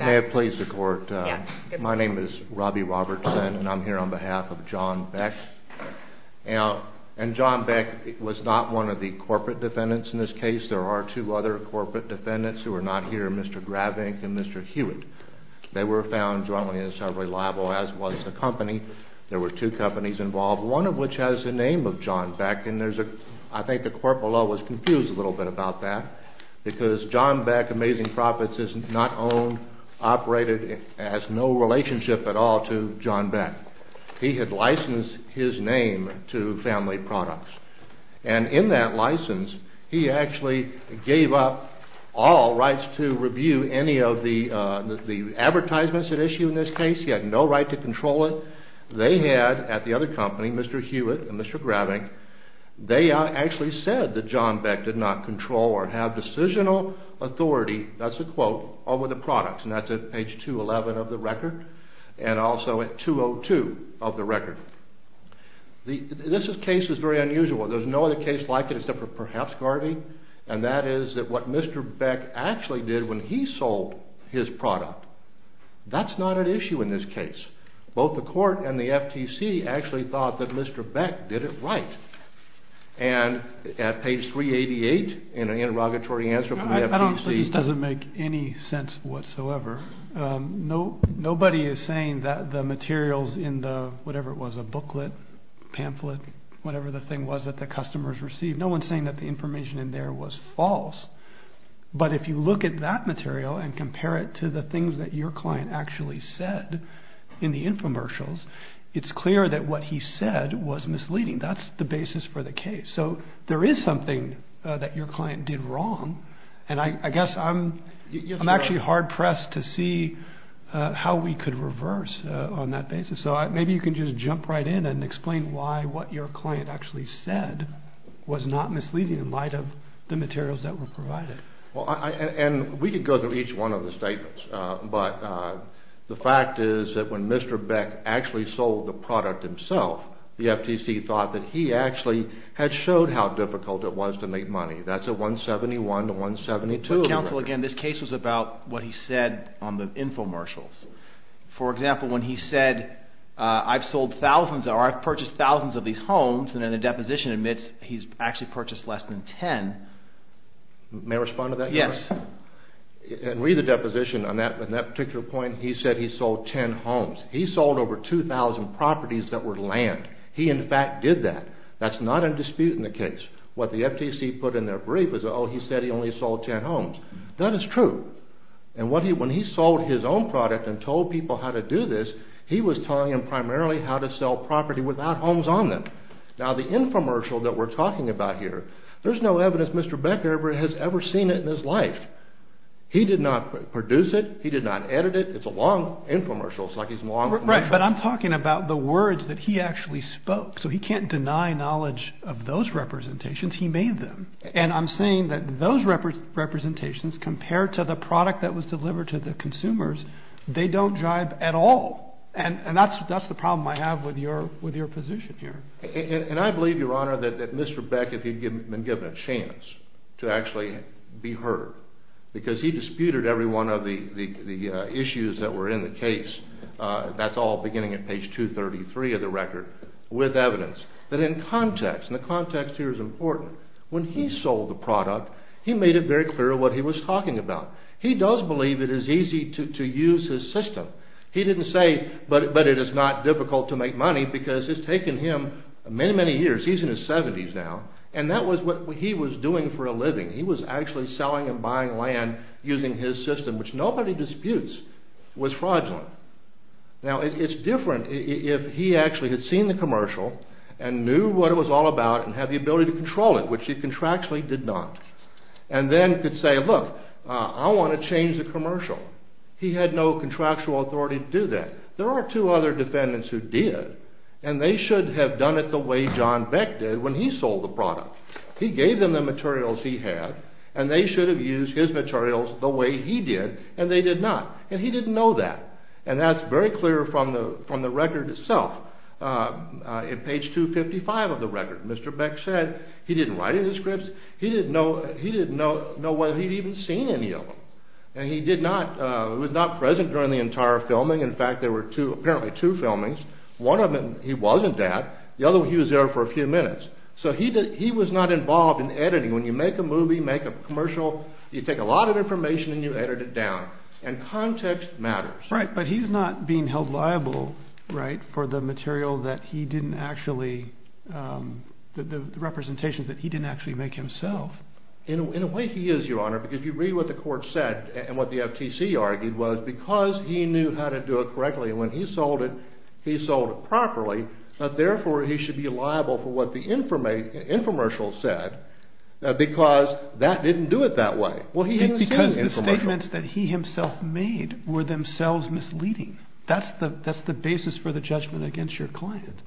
May it please the court, my name is Robbie Robertson and I'm here on behalf of John Beck. And John Beck was not one of the corporate defendants in this case, there are two other corporate defendants who are not here, Mr. Gravink and Mr. Hewitt. They were found jointly as heavily liable as was the company. There were two companies involved, one of which has the name of John Beck. And I think the court below was confused a little bit about that, because John Beck Amazing Profits is not owned, operated, has no relationship at all to John Beck. He had licensed his name to family products. And in that license, he actually gave up all rights to review any of the advertisements at issue in this case. He had no right to control it. They had, at the other company, Mr. Hewitt and Mr. Gravink, they actually said that John Beck did not control or have decisional authority, that's a quote, over the products. And that's at page 211 of the record, and also at 202 of the record. This case is very unusual. There's no other case like it except for perhaps Garvey, and that is that what Mr. Beck actually did when he sold his product, that's not an issue in this case. Both the court and the FTC actually thought that Mr. Beck did it right. And at page 388, in an interrogatory answer from the FTC... This doesn't make any sense whatsoever. Nobody is saying that the materials in the, whatever it was, a booklet, pamphlet, whatever the thing was that the customers received, no one's saying that the information in there was false. But if you look at that material and compare it to the things that your client actually said in the infomercials, it's clear that what he said was misleading. That's the basis for the case. So there is something that your client did wrong, and I guess I'm actually hard-pressed to see how we could reverse on that basis. So maybe you can just jump right in and explain why what your client actually said was not misleading in light of the materials that were provided. And we could go through each one of the statements, but the fact is that when Mr. Beck actually sold the product himself, the FTC thought that he actually had showed how difficult it was to make money. That's at 171 to 172. Mr. Counsel, again, this case was about what he said on the infomercials. For example, when he said, I've sold thousands, or I've purchased thousands of these homes, and then the deposition admits he's actually purchased less than 10. May I respond to that? Yes. And read the deposition on that particular point. He said he sold 10 homes. He sold over 2,000 properties that were land. He, in fact, did that. That's not in dispute in the case. What the FTC put in their brief is, oh, he said he only sold 10 homes. That is true. And when he sold his own product and told people how to do this, he was telling them primarily how to sell property without homes on them. Now, the infomercial that we're talking about here, there's no evidence Mr. Beck has ever seen it in his life. He did not produce it. He did not edit it. It's a long infomercial. It's like he's in a long commercial. But I'm talking about the words that he actually spoke. So he can't deny knowledge of those representations. He made them. And I'm saying that those representations, compared to the product that was delivered to the consumers, they don't jive at all. And that's the problem I have with your position here. And I believe, Your Honor, that Mr. Beck, if he'd been given a chance to actually be heard, because he disputed every one of the issues that were in the case, that's all beginning at page 233 of the record, with evidence, that in context, and the context here is important, when he sold the product, he made it very clear what he was talking about. He does believe it is easy to use his system. He didn't say, but it is not difficult to make money, because it's taken him many, many years. He's in his 70s now. And that was what he was doing for a living. He was actually selling and buying land using his system, which nobody disputes was fraudulent. Now, it's different if he actually had seen the commercial and knew what it was all about and had the ability to control it, which he contractually did not. And then could say, look, I want to change the commercial. He had no contractual authority to do that. There are two other defendants who did, and they should have done it the way John Beck did when he sold the product. He gave them the materials he had, and they should have used his materials the way he did, and they did not. And he didn't know that. And that's very clear from the record itself. In page 255 of the record, Mr. Beck said he didn't write any scripts. He didn't know whether he'd even seen any of them. And he was not present during the entire filming. In fact, there were apparently two filmings. One of them he wasn't at. The other, he was there for a few minutes. So he was not involved in editing. When you make a movie, make a commercial, you take a lot of information and you edit it down. And context matters. Right. But he's not being held liable, right, for the material that he didn't actually, the representations that he didn't actually make himself. In a way, he is, Your Honor, because you read what the court said and what the FTC argued was because he knew how to do it correctly when he sold it, he sold it properly. But therefore, he should be liable for what the infomercial said because that didn't do it that way. Because the statements that he himself made were themselves misleading. That's the basis for the judgment against your client.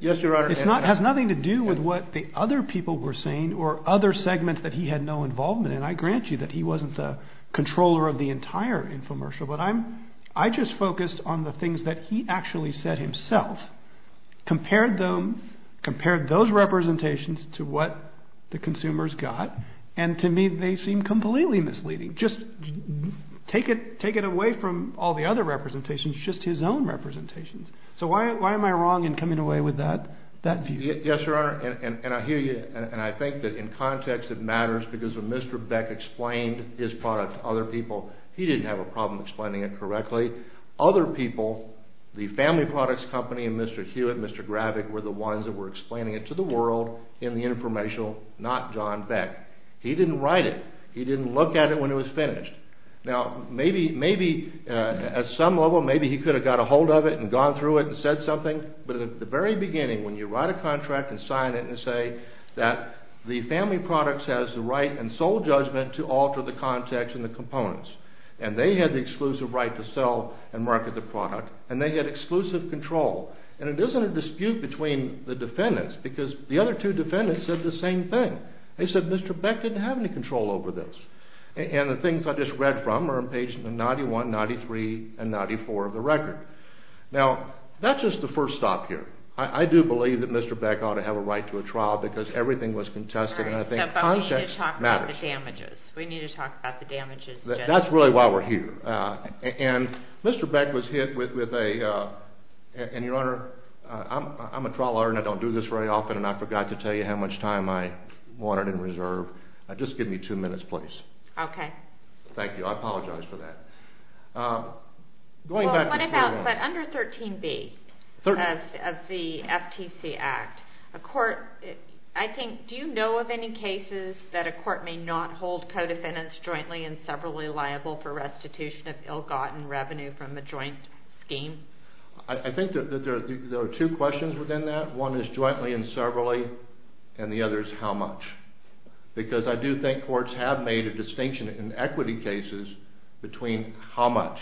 Yes, Your Honor. It has nothing to do with what the other people were saying or other segments that he had no involvement in. I grant you that he wasn't the controller of the entire infomercial. But I just focused on the things that he actually said himself. Compared them, compared those representations to what the consumers got. And to me, they seem completely misleading. Just take it away from all the other representations, just his own representations. So why am I wrong in coming away with that view? Yes, Your Honor. And I hear you. And I think that in context it matters because when Mr. Beck explained his product to other people, he didn't have a problem explaining it correctly. Other people, the family products company and Mr. Hewitt and Mr. Gravig were the ones that were explaining it to the world in the infomercial, not John Beck. He didn't write it. He didn't look at it when it was finished. Now, maybe at some level, maybe he could have got a hold of it and gone through it and said something. But at the very beginning, when you write a contract and sign it and say that the family products has the right and sole judgment to alter the context and the components. And they had the exclusive right to sell and market the product and they had exclusive control. And it isn't a dispute between the defendants because the other two defendants said the same thing. They said Mr. Beck didn't have any control over this. And the things I just read from are in pages 91, 93 and 94 of the record. Now, that's just the first stop here. I do believe that Mr. Beck ought to have a right to a trial because everything was contested and I think context matters. We need to talk about the damages. That's really why we're here. And Mr. Beck was hit with a, and Your Honor, I'm a trial lawyer and I don't do this very often and I forgot to tell you how much time I wanted in reserve. Just give me two minutes, please. Okay. Thank you. I apologize for that. But under 13B of the FTC Act, a court, I think, do you know of any cases that a court may not hold co-defendants jointly and severally liable for restitution of ill-gotten revenue from a joint scheme? I think that there are two questions within that. One is jointly and severally and the other is how much. Because I do think courts have made a distinction in equity cases between how much.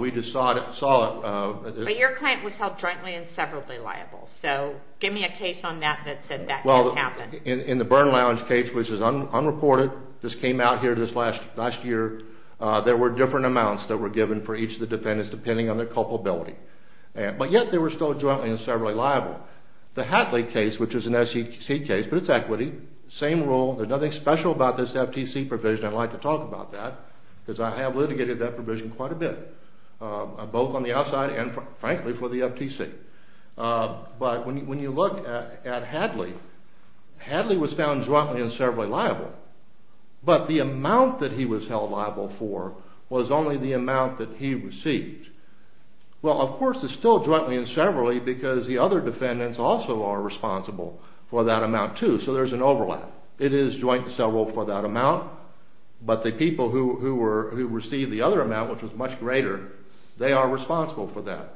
We just saw it. But your client was held jointly and severally liable. So give me a case on that that said that didn't happen. Well, in the Byrne Lounge case, which is unreported, just came out here this last year, there were different amounts that were given for each of the defendants depending on their culpability. But yet they were still jointly and severally liable. The Hadley case, which is an SEC case, but it's equity, same rule, there's nothing special about this FTC provision, I'd like to talk about that, because I have litigated that provision quite a bit, both on the outside and, frankly, for the FTC. But when you look at Hadley, Hadley was found jointly and severally liable, but the amount that he was held liable for was only the amount that he received. Well, of course, it's still jointly and severally because the other defendants also are responsible for that amount, too, so there's an overlap. It is jointly and severally for that amount, but the people who received the other amount, which was much greater, they are responsible for that.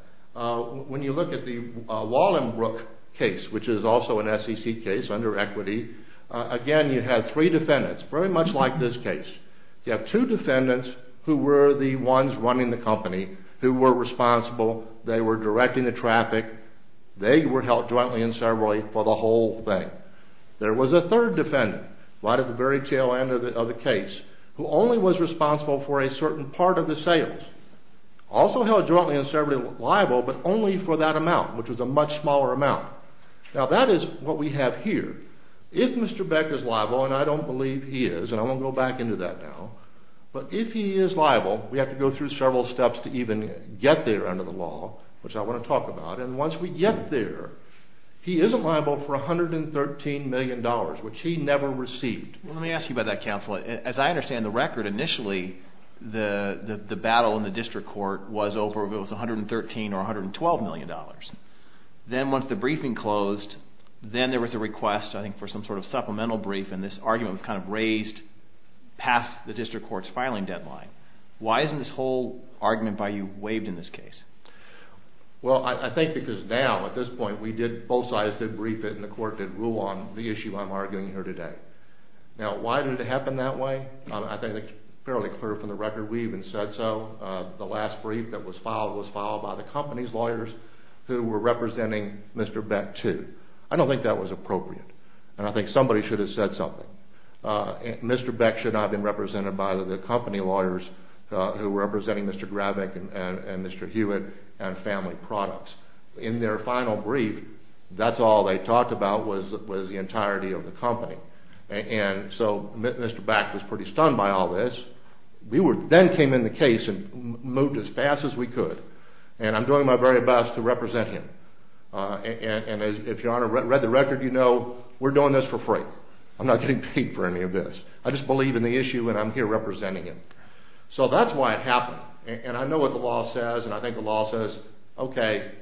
When you look at the Wallenbrook case, which is also an SEC case under equity, again, you have three defendants, very much like this case. You have two defendants who were the ones running the company, who were responsible, they were directing the traffic, they were held jointly and severally for the whole thing. There was a third defendant, right at the very tail end of the case, who only was responsible for a certain part of the sales. Also held jointly and severally liable, but only for that amount, which was a much smaller amount. Now, that is what we have here. If Mr. Beck is liable, and I don't believe he is, and I won't go back into that now, but if he is liable, we have to go through several steps to even get there under the law, which I want to talk about, and once we get there, he isn't liable for $113 million, which he never received. Let me ask you about that, counsel. As I understand the record, initially the battle in the district court was over if it was $113 or $112 million. Then once the briefing closed, then there was a request, I think, for some sort of supplemental brief, and this argument was kind of raised past the district court's filing deadline. Why isn't this whole argument by you waived in this case? Well, I think because now, at this point, both sides did brief it and the court did rule on the issue I'm arguing here today. Now, why did it happen that way? I think it's fairly clear from the record we even said so. The last brief that was filed was filed by the company's lawyers who were representing Mr. Beck, too. I don't think that was appropriate, and I think somebody should have said something. Mr. Beck should not have been represented by the company lawyers who were representing Mr. Gravick and Mr. Hewitt and Family Products. In their final brief, that's all they talked about was the entirety of the company, and so Mr. Beck was pretty stunned by all this. We then came in the case and moved as fast as we could, and I'm doing my very best to represent him. And if you read the record, you know we're doing this for free. I'm not getting paid for any of this. I just believe in the issue, and I'm here representing him. So that's why it happened, and I know what the law says, and I think the law says, okay,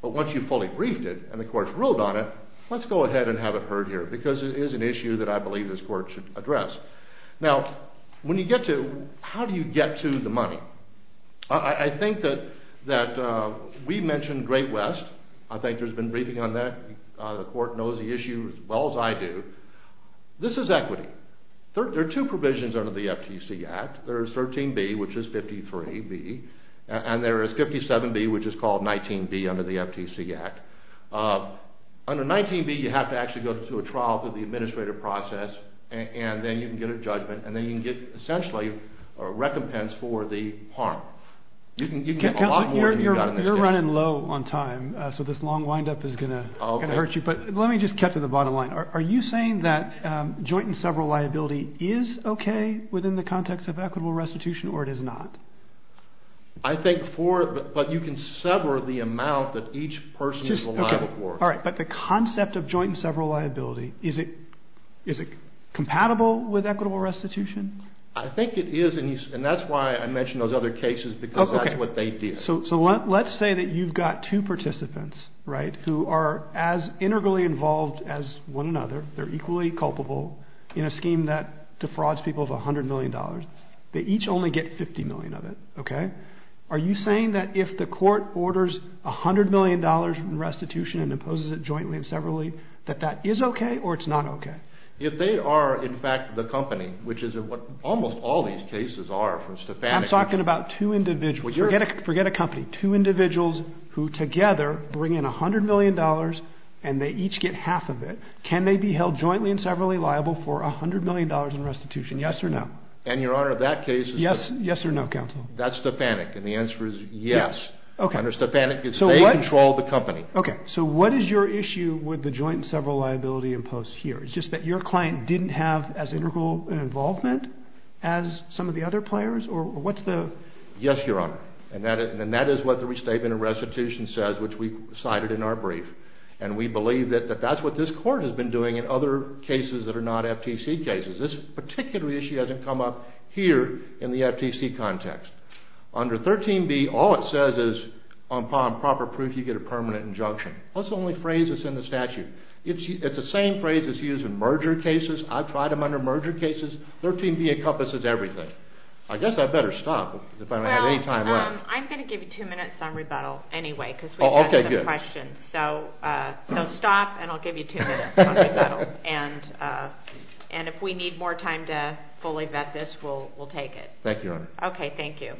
but once you've fully briefed it and the court's ruled on it, let's go ahead and have it heard here because it is an issue that I believe this court should address. Now, when you get to it, how do you get to the money? I think that we mentioned Great West. I think there's been briefing on that. The court knows the issue as well as I do. This is equity. There are two provisions under the FTC Act. There is 13B, which is 53B, and there is 57B, which is called 19B under the FTC Act. Under 19B, you have to actually go through a trial through the administrative process, and then you can get a judgment, and then you can get essentially a recompense for the harm. You can get a lot more than you got in this case. Counselor, you're running low on time, so this long windup is going to hurt you. But let me just cut to the bottom line. Are you saying that joint and several liability is okay within the context of equitable restitution, or it is not? I think for the – but you can sever the amount that each person – All right, but the concept of joint and several liability, is it compatible with equitable restitution? I think it is, and that's why I mentioned those other cases, because that's what they did. So let's say that you've got two participants, right, who are as integrally involved as one another. They're equally culpable in a scheme that defrauds people of $100 million. They each only get $50 million of it, okay? Are you saying that if the court orders $100 million in restitution and imposes it jointly and severally, that that is okay, or it's not okay? If they are, in fact, the company, which is what almost all these cases are from Stefanik – I'm talking about two individuals. Forget a company. Two individuals who together bring in $100 million, and they each get half of it. Can they be held jointly and severally liable for $100 million in restitution? Yes or no? And, Your Honor, that case is – Yes or no, Counselor? That's Stefanik, and the answer is yes. Okay. Under Stefanik, they control the company. Okay. So what is your issue with the joint and several liability imposed here? It's just that your client didn't have as integral an involvement as some of the other players? Or what's the – Yes, Your Honor, and that is what the restatement of restitution says, which we cited in our brief. And we believe that that's what this court has been doing in other cases that are not FTC cases. This particular issue hasn't come up here in the FTC context. Under 13b, all it says is, upon proper proof, you get a permanent injunction. That's the only phrase that's in the statute. It's the same phrase that's used in merger cases. I've tried them under merger cases. 13b encompasses everything. I guess I'd better stop if I don't have any time left. Well, I'm going to give you two minutes on rebuttal anyway because we've answered the questions. Okay, good. So stop, and I'll give you two minutes on rebuttal. Okay. And if we need more time to fully vet this, we'll take it. Thank you, Your Honor. Okay, thank you.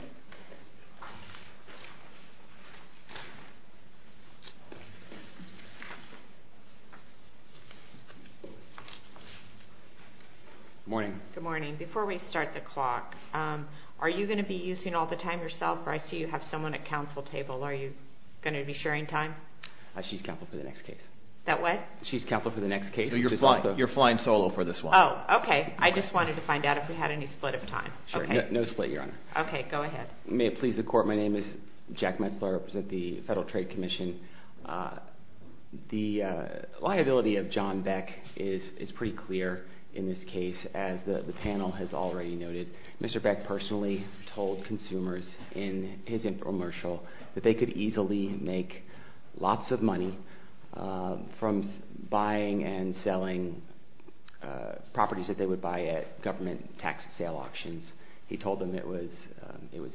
Good morning. Good morning. Before we start the clock, are you going to be using all the time yourself? I see you have someone at counsel table. Are you going to be sharing time? She's counsel for the next case. That what? She's counsel for the next case. So you're flying solo for this one. Oh, okay. I just wanted to find out if we had any split of time. No split, Your Honor. Okay, go ahead. May it please the Court, my name is Jack Metzler. I represent the Federal Trade Commission. The liability of John Beck is pretty clear in this case, as the panel has already noted. Mr. Beck personally told consumers in his infomercial that they could easily make lots of money from buying and selling properties that they would buy at government tax sale auctions. He told them it was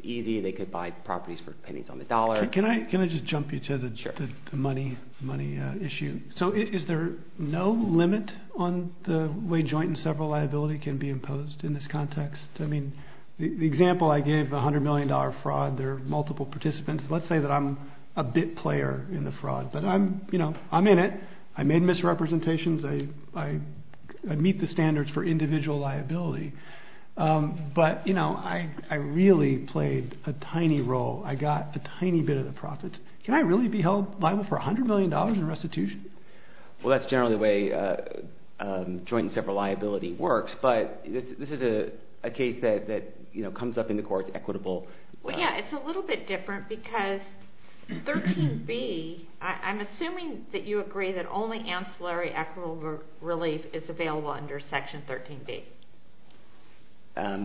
easy. They could buy properties for pennies on the dollar. Can I just jump you to the money issue? So is there no limit on the way joint and several liability can be imposed in this context? I mean, the example I gave, $100 million fraud, there are multiple participants. Let's say that I'm a bit player in the fraud, but I'm in it. I made misrepresentations. I meet the standards for individual liability. But, you know, I really played a tiny role. I got a tiny bit of the profits. Can I really be held liable for $100 million in restitution? Well, that's generally the way joint and several liability works. But this is a case that, you know, comes up in the courts equitable. Well, yeah, it's a little bit different because 13b, I'm assuming that you agree that only ancillary equitable relief is available under Section 13b.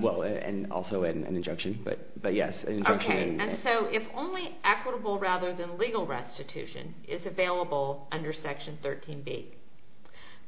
Well, and also an injunction, but yes, an injunction. Right, and so if only equitable rather than legal restitution is available under Section 13b,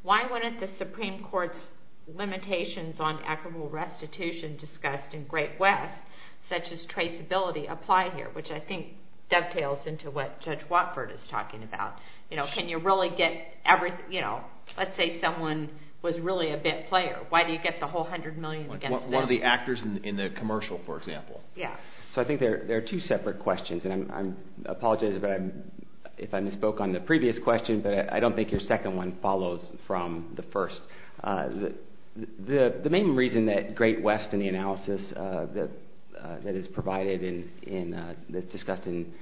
why wouldn't the Supreme Court's limitations on equitable restitution discussed in Great West such as traceability apply here, which I think dovetails into what Judge Watford is talking about? You know, can you really get every, you know, let's say someone was really a bit player. Why do you get the whole $100 million against them? One of the actors in the commercial, for example. Yeah, so I think there are two separate questions, and I apologize if I misspoke on the previous question, but I don't think your second one follows from the first. The main reason that Great West in the analysis that is provided in the discussed in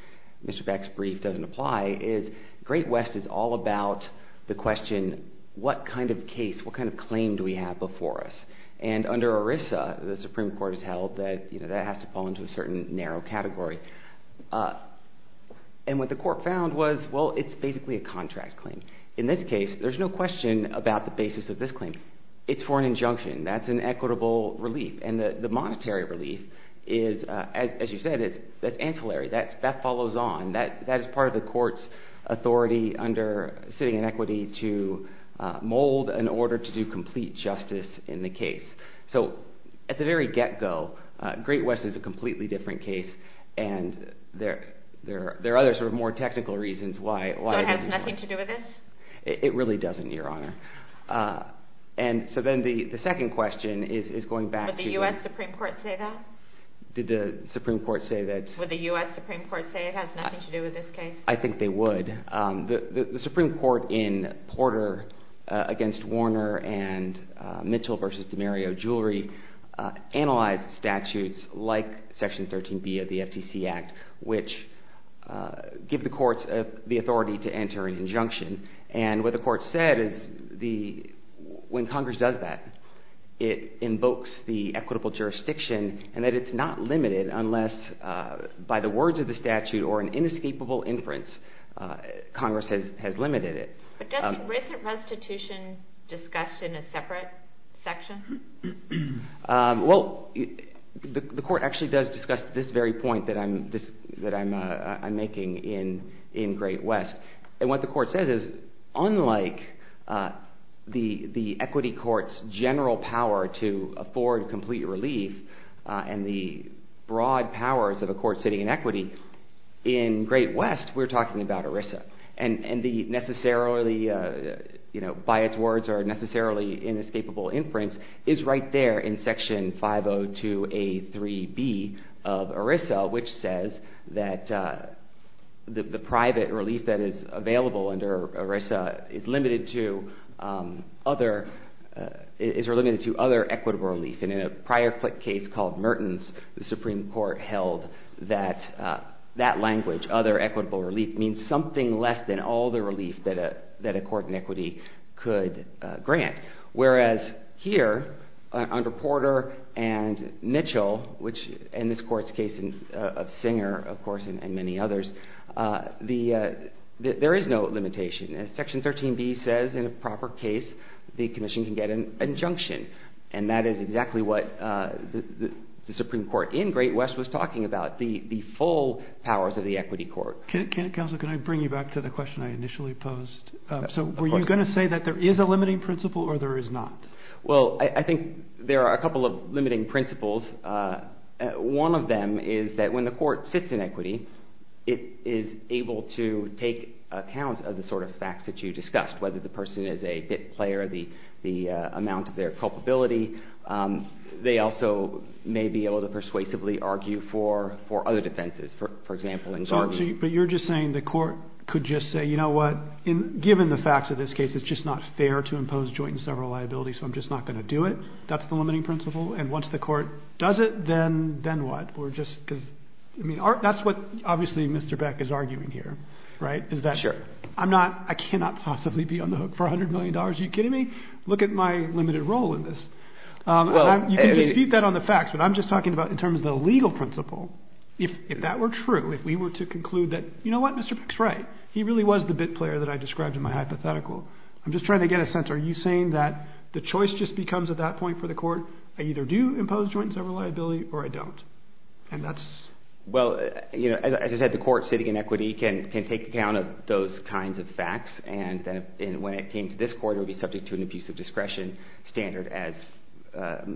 Mr. Beck's brief doesn't apply is Great West is all about the question, what kind of case, what kind of claim do we have before us? And under ERISA, the Supreme Court has held that, you know, that has to fall into a certain narrow category. And what the court found was, well, it's basically a contract claim. In this case, there's no question about the basis of this claim. It's for an injunction. That's an equitable relief. And the monetary relief is, as you said, that's ancillary. That follows on. That is part of the court's authority under sitting inequity to mold an order to do complete justice in the case. So at the very get-go, Great West is a completely different case, and there are other sort of more technical reasons why. So it has nothing to do with this? It really doesn't, Your Honor. And so then the second question is going back to the... Would the U.S. Supreme Court say that? Did the Supreme Court say that? Would the U.S. Supreme Court say it has nothing to do with this case? I think they would. The Supreme Court in Porter against Warner and Mitchell v. DiMario Jewelry analyzed statutes like Section 13B of the FTC Act, which give the courts the authority to enter an injunction. And what the court said is when Congress does that, it invokes the equitable jurisdiction and that it's not limited unless, by the words of the statute or an inescapable inference, Congress has limited it. But doesn't recent restitution discussed in a separate section? Well, the court actually does discuss this very point that I'm making in Great West. And what the court says is unlike the equity court's general power to afford complete relief and the broad powers of a court sitting in equity, in Great West we're talking about ERISA. And the necessarily, by its words, or necessarily inescapable inference is right there in Section 502A3B of ERISA, which says that the private relief that is available under ERISA is limited to other equitable relief. And in a prior case called Mertens, the Supreme Court held that that language, other equitable relief, means something less than all the relief that a court in equity could grant. Whereas here under Porter and Mitchell, which in this court's case of Singer, of course, and many others, there is no limitation. Section 13B says in a proper case the commission can get an injunction. And that is exactly what the Supreme Court in Great West was talking about, the full powers of the equity court. Counsel, can I bring you back to the question I initially posed? So were you going to say that there is a limiting principle or there is not? Well, I think there are a couple of limiting principles. One of them is that when the court sits in equity, it is able to take account of the sort of facts that you discussed, whether the person is a bit player, the amount of their culpability. They also may be able to persuasively argue for other defenses, for example, in Garvey. But you're just saying the court could just say, you know what, given the facts of this case, it's just not fair to impose joint and several liabilities, so I'm just not going to do it. That's the limiting principle. And once the court does it, then what? That's what obviously Mr. Beck is arguing here, right, is that I cannot possibly be on the hook for $100 million. Are you kidding me? Look at my limited role in this. You can dispute that on the facts, but I'm just talking about in terms of the legal principle. If that were true, if we were to conclude that, you know what, Mr. Beck's right, he really was the bit player that I described in my hypothetical, I'm just trying to get a sense, are you saying that the choice just becomes at that point for the court, I either do impose joint and several liability or I don't, and that's? Well, as I said, the court sitting in equity can take account of those kinds of facts, and when it came to this court, it would be subject to an abuse of discretion standard as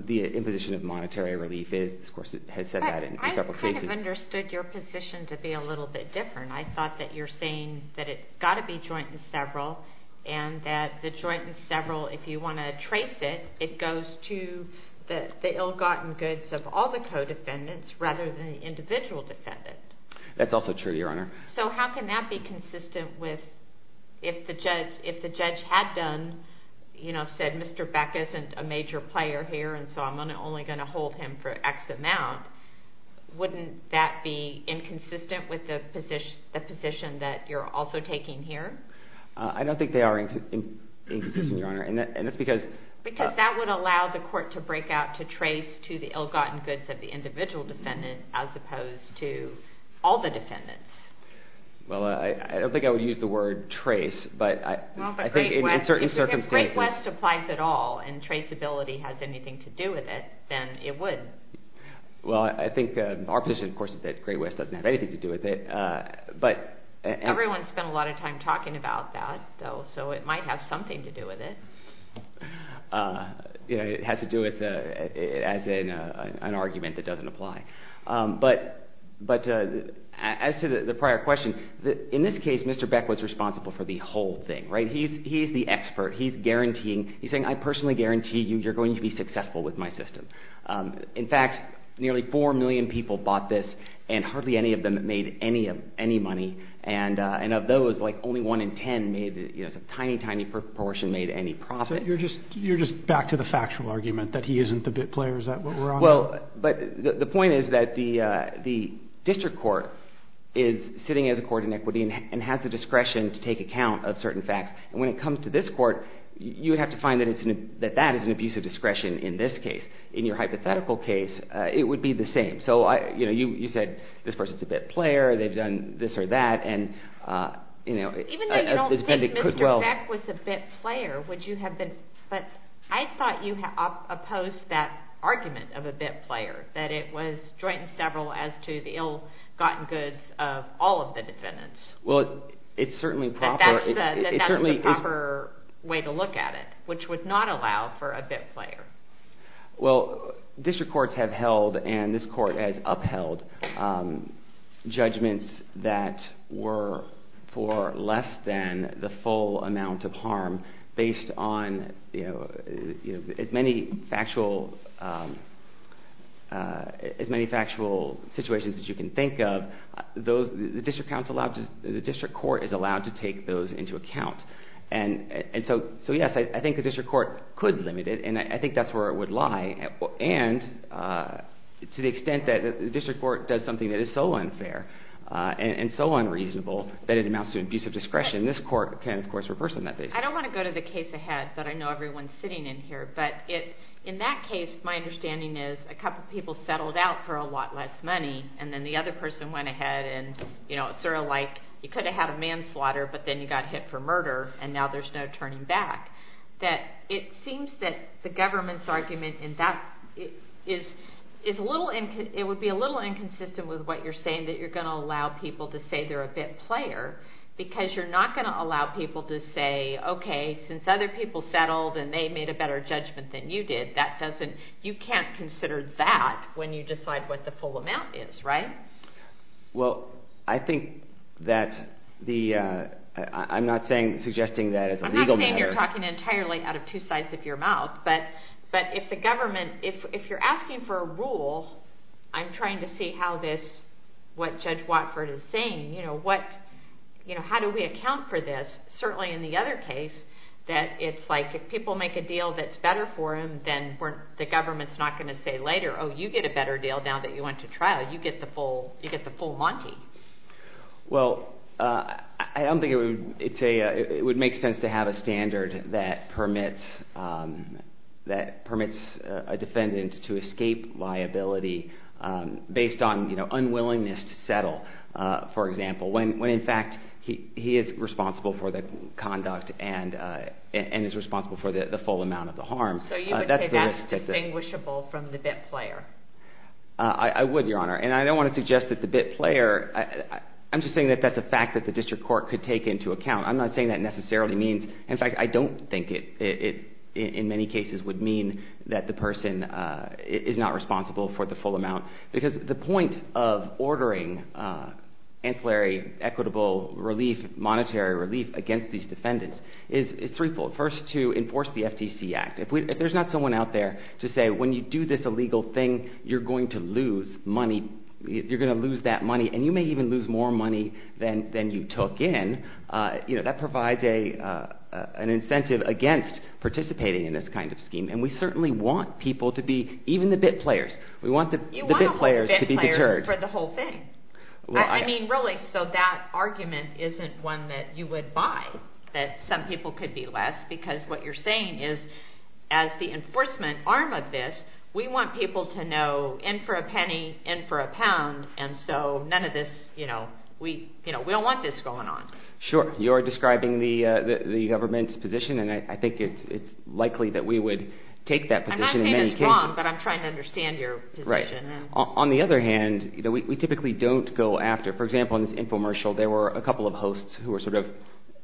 the imposition of monetary relief is. Of course, it has said that in several cases. But I kind of understood your position to be a little bit different. I thought that you're saying that it's got to be joint and several and that the joint and several, if you want to trace it, it goes to the ill-gotten goods of all the co-defendants rather than the individual defendant. That's also true, Your Honor. So how can that be consistent with if the judge had done, you know, said Mr. Beck isn't a major player here and so I'm only going to hold him for X amount, wouldn't that be inconsistent with the position that you're also taking here? I don't think they are inconsistent, Your Honor, and that's because. Because that would allow the court to break out to trace to the ill-gotten goods of the individual defendant as opposed to all the defendants. Well, I don't think I would use the word trace, but I think in certain circumstances. If Great West applies at all and traceability has anything to do with it, then it would. Well, I think our position, of course, is that Great West doesn't have anything to do with it. Everyone spent a lot of time talking about that, though, so it might have something to do with it. You know, it has to do with it as an argument that doesn't apply. But as to the prior question, in this case, Mr. Beck was responsible for the whole thing, right? He's the expert. He's guaranteeing. He's saying, I personally guarantee you you're going to be successful with my system. In fact, nearly four million people bought this and hardly any of them made any money. And of those, like only one in ten made, you know, a tiny, tiny proportion made any profit. So you're just back to the factual argument that he isn't the bit player? Is that what we're on? Well, but the point is that the district court is sitting as a court in equity and has the discretion to take account of certain facts. And when it comes to this court, you have to find that that is an abuse of discretion in this case. In your hypothetical case, it would be the same. So, you know, you said this person's a bit player. They've done this or that. Even though you don't think Mr. Beck was a bit player, would you have been? But I thought you opposed that argument of a bit player, that it was joint and several as to the ill-gotten goods of all of the defendants. Well, it's certainly proper. That that's the proper way to look at it, which would not allow for a bit player. Well, district courts have held, and this court has upheld, judgments that were for less than the full amount of harm, based on as many factual situations as you can think of. The district court is allowed to take those into account. And so, yes, I think the district court could limit it, and I think that's where it would lie. And to the extent that the district court does something that is so unfair and so unreasonable that it amounts to abusive discretion, this court can, of course, reverse on that basis. I don't want to go to the case ahead, but I know everyone's sitting in here. But in that case, my understanding is a couple people settled out for a lot less money, and then the other person went ahead, and it's sort of like you could have had a manslaughter, but then you got hit for murder, and now there's no turning back. It seems that the government's argument in that is a little inconsistent with what you're saying, that you're going to allow people to say they're a bit player, because you're not going to allow people to say, okay, since other people settled and they made a better judgment than you did, you can't consider that when you decide what the full amount is, right? Well, I think that I'm not suggesting that as a legal matter. I'm not saying you're talking entirely out of two sides of your mouth, but if you're asking for a rule, I'm trying to see what Judge Watford is saying. How do we account for this? Certainly in the other case, that it's like if people make a deal that's better for them, then the government's not going to say later, oh, you get a better deal now that you went to trial. You get the full monty. Well, I don't think it would make sense to have a standard that permits a defendant to escape liability based on unwillingness to settle, for example, when, in fact, he is responsible for the conduct and is responsible for the full amount of the harm. So you would say that's distinguishable from the bit player? I would, Your Honor, and I don't want to suggest that the bit player – I'm just saying that that's a fact that the district court could take into account. I'm not saying that necessarily means – in fact, I don't think it in many cases would mean that the person is not responsible for the full amount, because the point of ordering ancillary equitable relief, monetary relief against these defendants is threefold. First, to enforce the FTC Act. If there's not someone out there to say when you do this illegal thing, you're going to lose money, you're going to lose that money, and you may even lose more money than you took in, that provides an incentive against participating in this kind of scheme, and we certainly want people to be – even the bit players. We want the bit players to be deterred. You want to hold the bit players for the whole thing. I mean, really, so that argument isn't one that you would buy, that some people could be less, because what you're saying is as the enforcement arm of this, we want people to know in for a penny, in for a pound, and so none of this – we don't want this going on. Sure. You're describing the government's position, and I think it's likely that we would take that position in many cases. You're wrong, but I'm trying to understand your position. Right. On the other hand, we typically don't go after – for example, in this infomercial, there were a couple of hosts who were sort of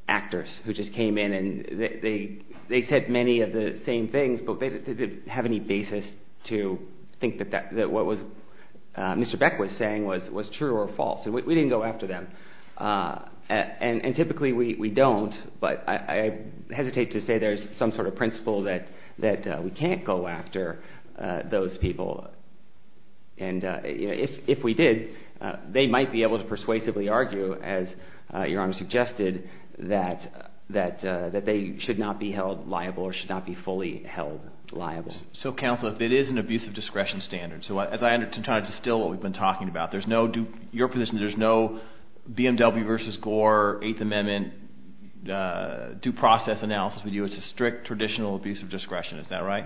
actors who just came in, and they said many of the same things, but they didn't have any basis to think that what Mr. Beck was saying was true or false, and we didn't go after them. And typically we don't, but I hesitate to say there's some sort of principle that we can't go after those people, and if we did, they might be able to persuasively argue, as Your Honor suggested, that they should not be held liable or should not be fully held liable. So, counsel, if it is an abusive discretion standard – so as I try to distill what we've been talking about, there's no – your position is there's no BMW v. Gore, Eighth Amendment, due process analysis we do. It's a strict, traditional abusive discretion. Is that right?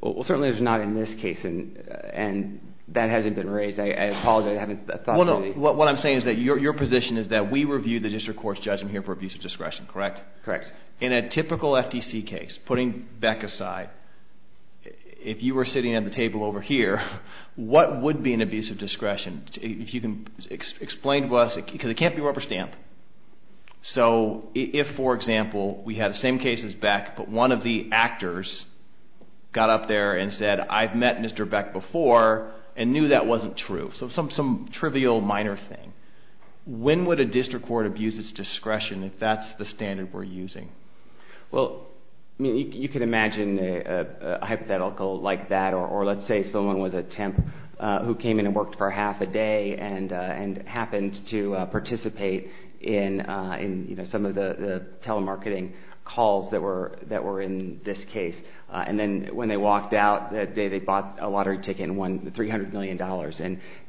Well, certainly it's not in this case, and that hasn't been raised. I apologize. I haven't thought about it. What I'm saying is that your position is that we review the district court's judgment here for abusive discretion, correct? Correct. In a typical FTC case, putting Beck aside, if you were sitting at the table over here, what would be an abusive discretion? If you can explain to us – because it can't be rubber stamped. So if, for example, we had the same case as Beck, but one of the actors got up there and said, I've met Mr. Beck before and knew that wasn't true – so some trivial, minor thing – when would a district court abuse its discretion if that's the standard we're using? Well, you can imagine a hypothetical like that. Or let's say someone was a temp who came in and worked for half a day and happened to participate in some of the telemarketing calls that were in this case. And then when they walked out that day, they bought a lottery ticket and won $300 million.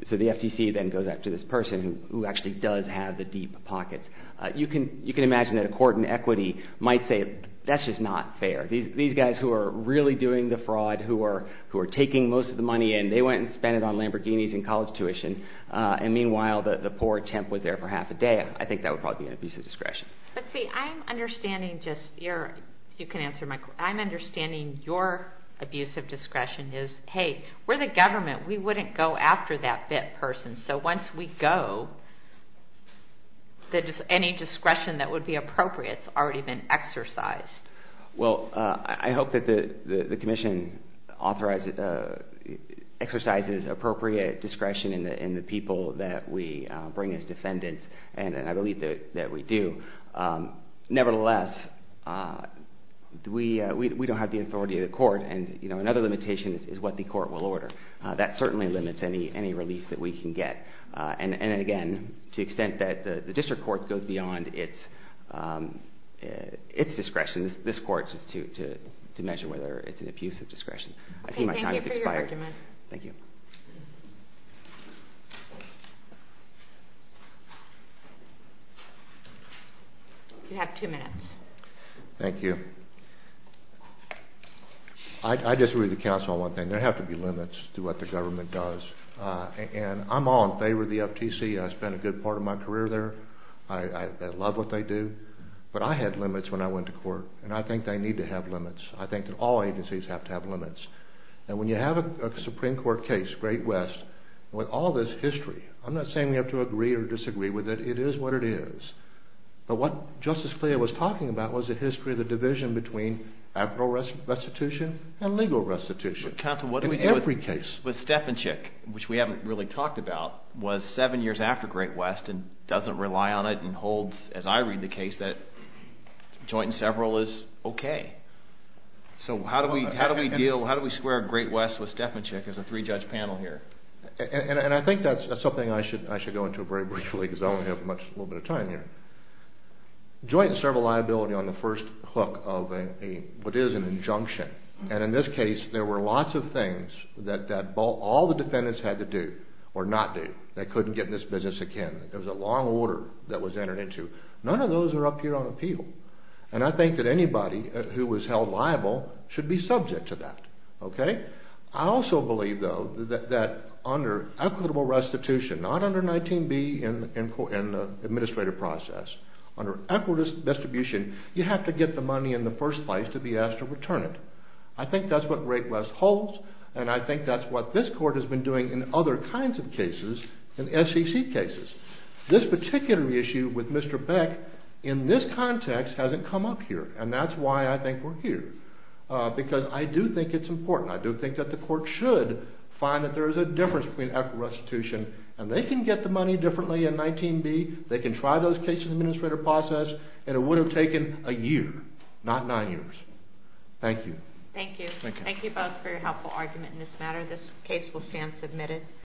So the FTC then goes after this person who actually does have the deep pockets. You can imagine that a court in equity might say, that's just not fair. These guys who are really doing the fraud, who are taking most of the money in, they went and spent it on Lamborghinis and college tuition. And meanwhile, the poor temp was there for half a day. I think that would probably be an abusive discretion. But see, I'm understanding your abusive discretion is, hey, we're the government. We wouldn't go after that bit person. So once we go, any discretion that would be appropriate has already been exercised. Well, I hope that the commission exercises appropriate discretion in the people that we bring as defendants, and I believe that we do. Nevertheless, we don't have the authority of the court, and another limitation is what the court will order. That certainly limits any relief that we can get. And again, to the extent that the district court goes beyond its discretion, this court is to measure whether it's an abusive discretion. I see my time has expired. Thank you for your argument. Thank you. You have two minutes. Thank you. I disagree with the counsel on one thing. There have to be limits to what the government does. And I'm all in favor of the FTC. I spent a good part of my career there. I love what they do. But I had limits when I went to court, and I think they need to have limits. I think that all agencies have to have limits. And when you have a Supreme Court case, Great West, with all this history, I'm not saying we have to agree or disagree with it. It is what it is. But what Justice Cleo was talking about was the history of the division between actual restitution and legal restitution in every case. But, counsel, what did we do with Steffenchik, which we haven't really talked about, was seven years after Great West and doesn't rely on it and holds, as I read the case, that joint and several is okay. So how do we deal, how do we square Great West with Steffenchik as a three-judge panel here? And I think that's something I should go into very briefly because I don't have much time here. Joint and several liability on the first hook of what is an injunction. And in this case, there were lots of things that all the defendants had to do or not do that couldn't get in this business again. There was a long order that was entered into. None of those are up here on appeal. And I think that anybody who was held liable should be subject to that. I also believe, though, that under equitable restitution, not under 19B in the administrative process, under equitable restitution, you have to get the money in the first place to be asked to return it. I think that's what Great West holds, and I think that's what this court has been doing in other kinds of cases, in SEC cases. This particular issue with Mr. Beck in this context hasn't come up here, and that's why I think we're here, because I do think it's important. I do think that the court should find that there is a difference between equitable restitution, and they can get the money differently in 19B. They can try those cases in the administrative process, and it would have taken a year, not nine years. Thank you. Thank you. Thank you both for your helpful argument in this matter. This case will stand submitted.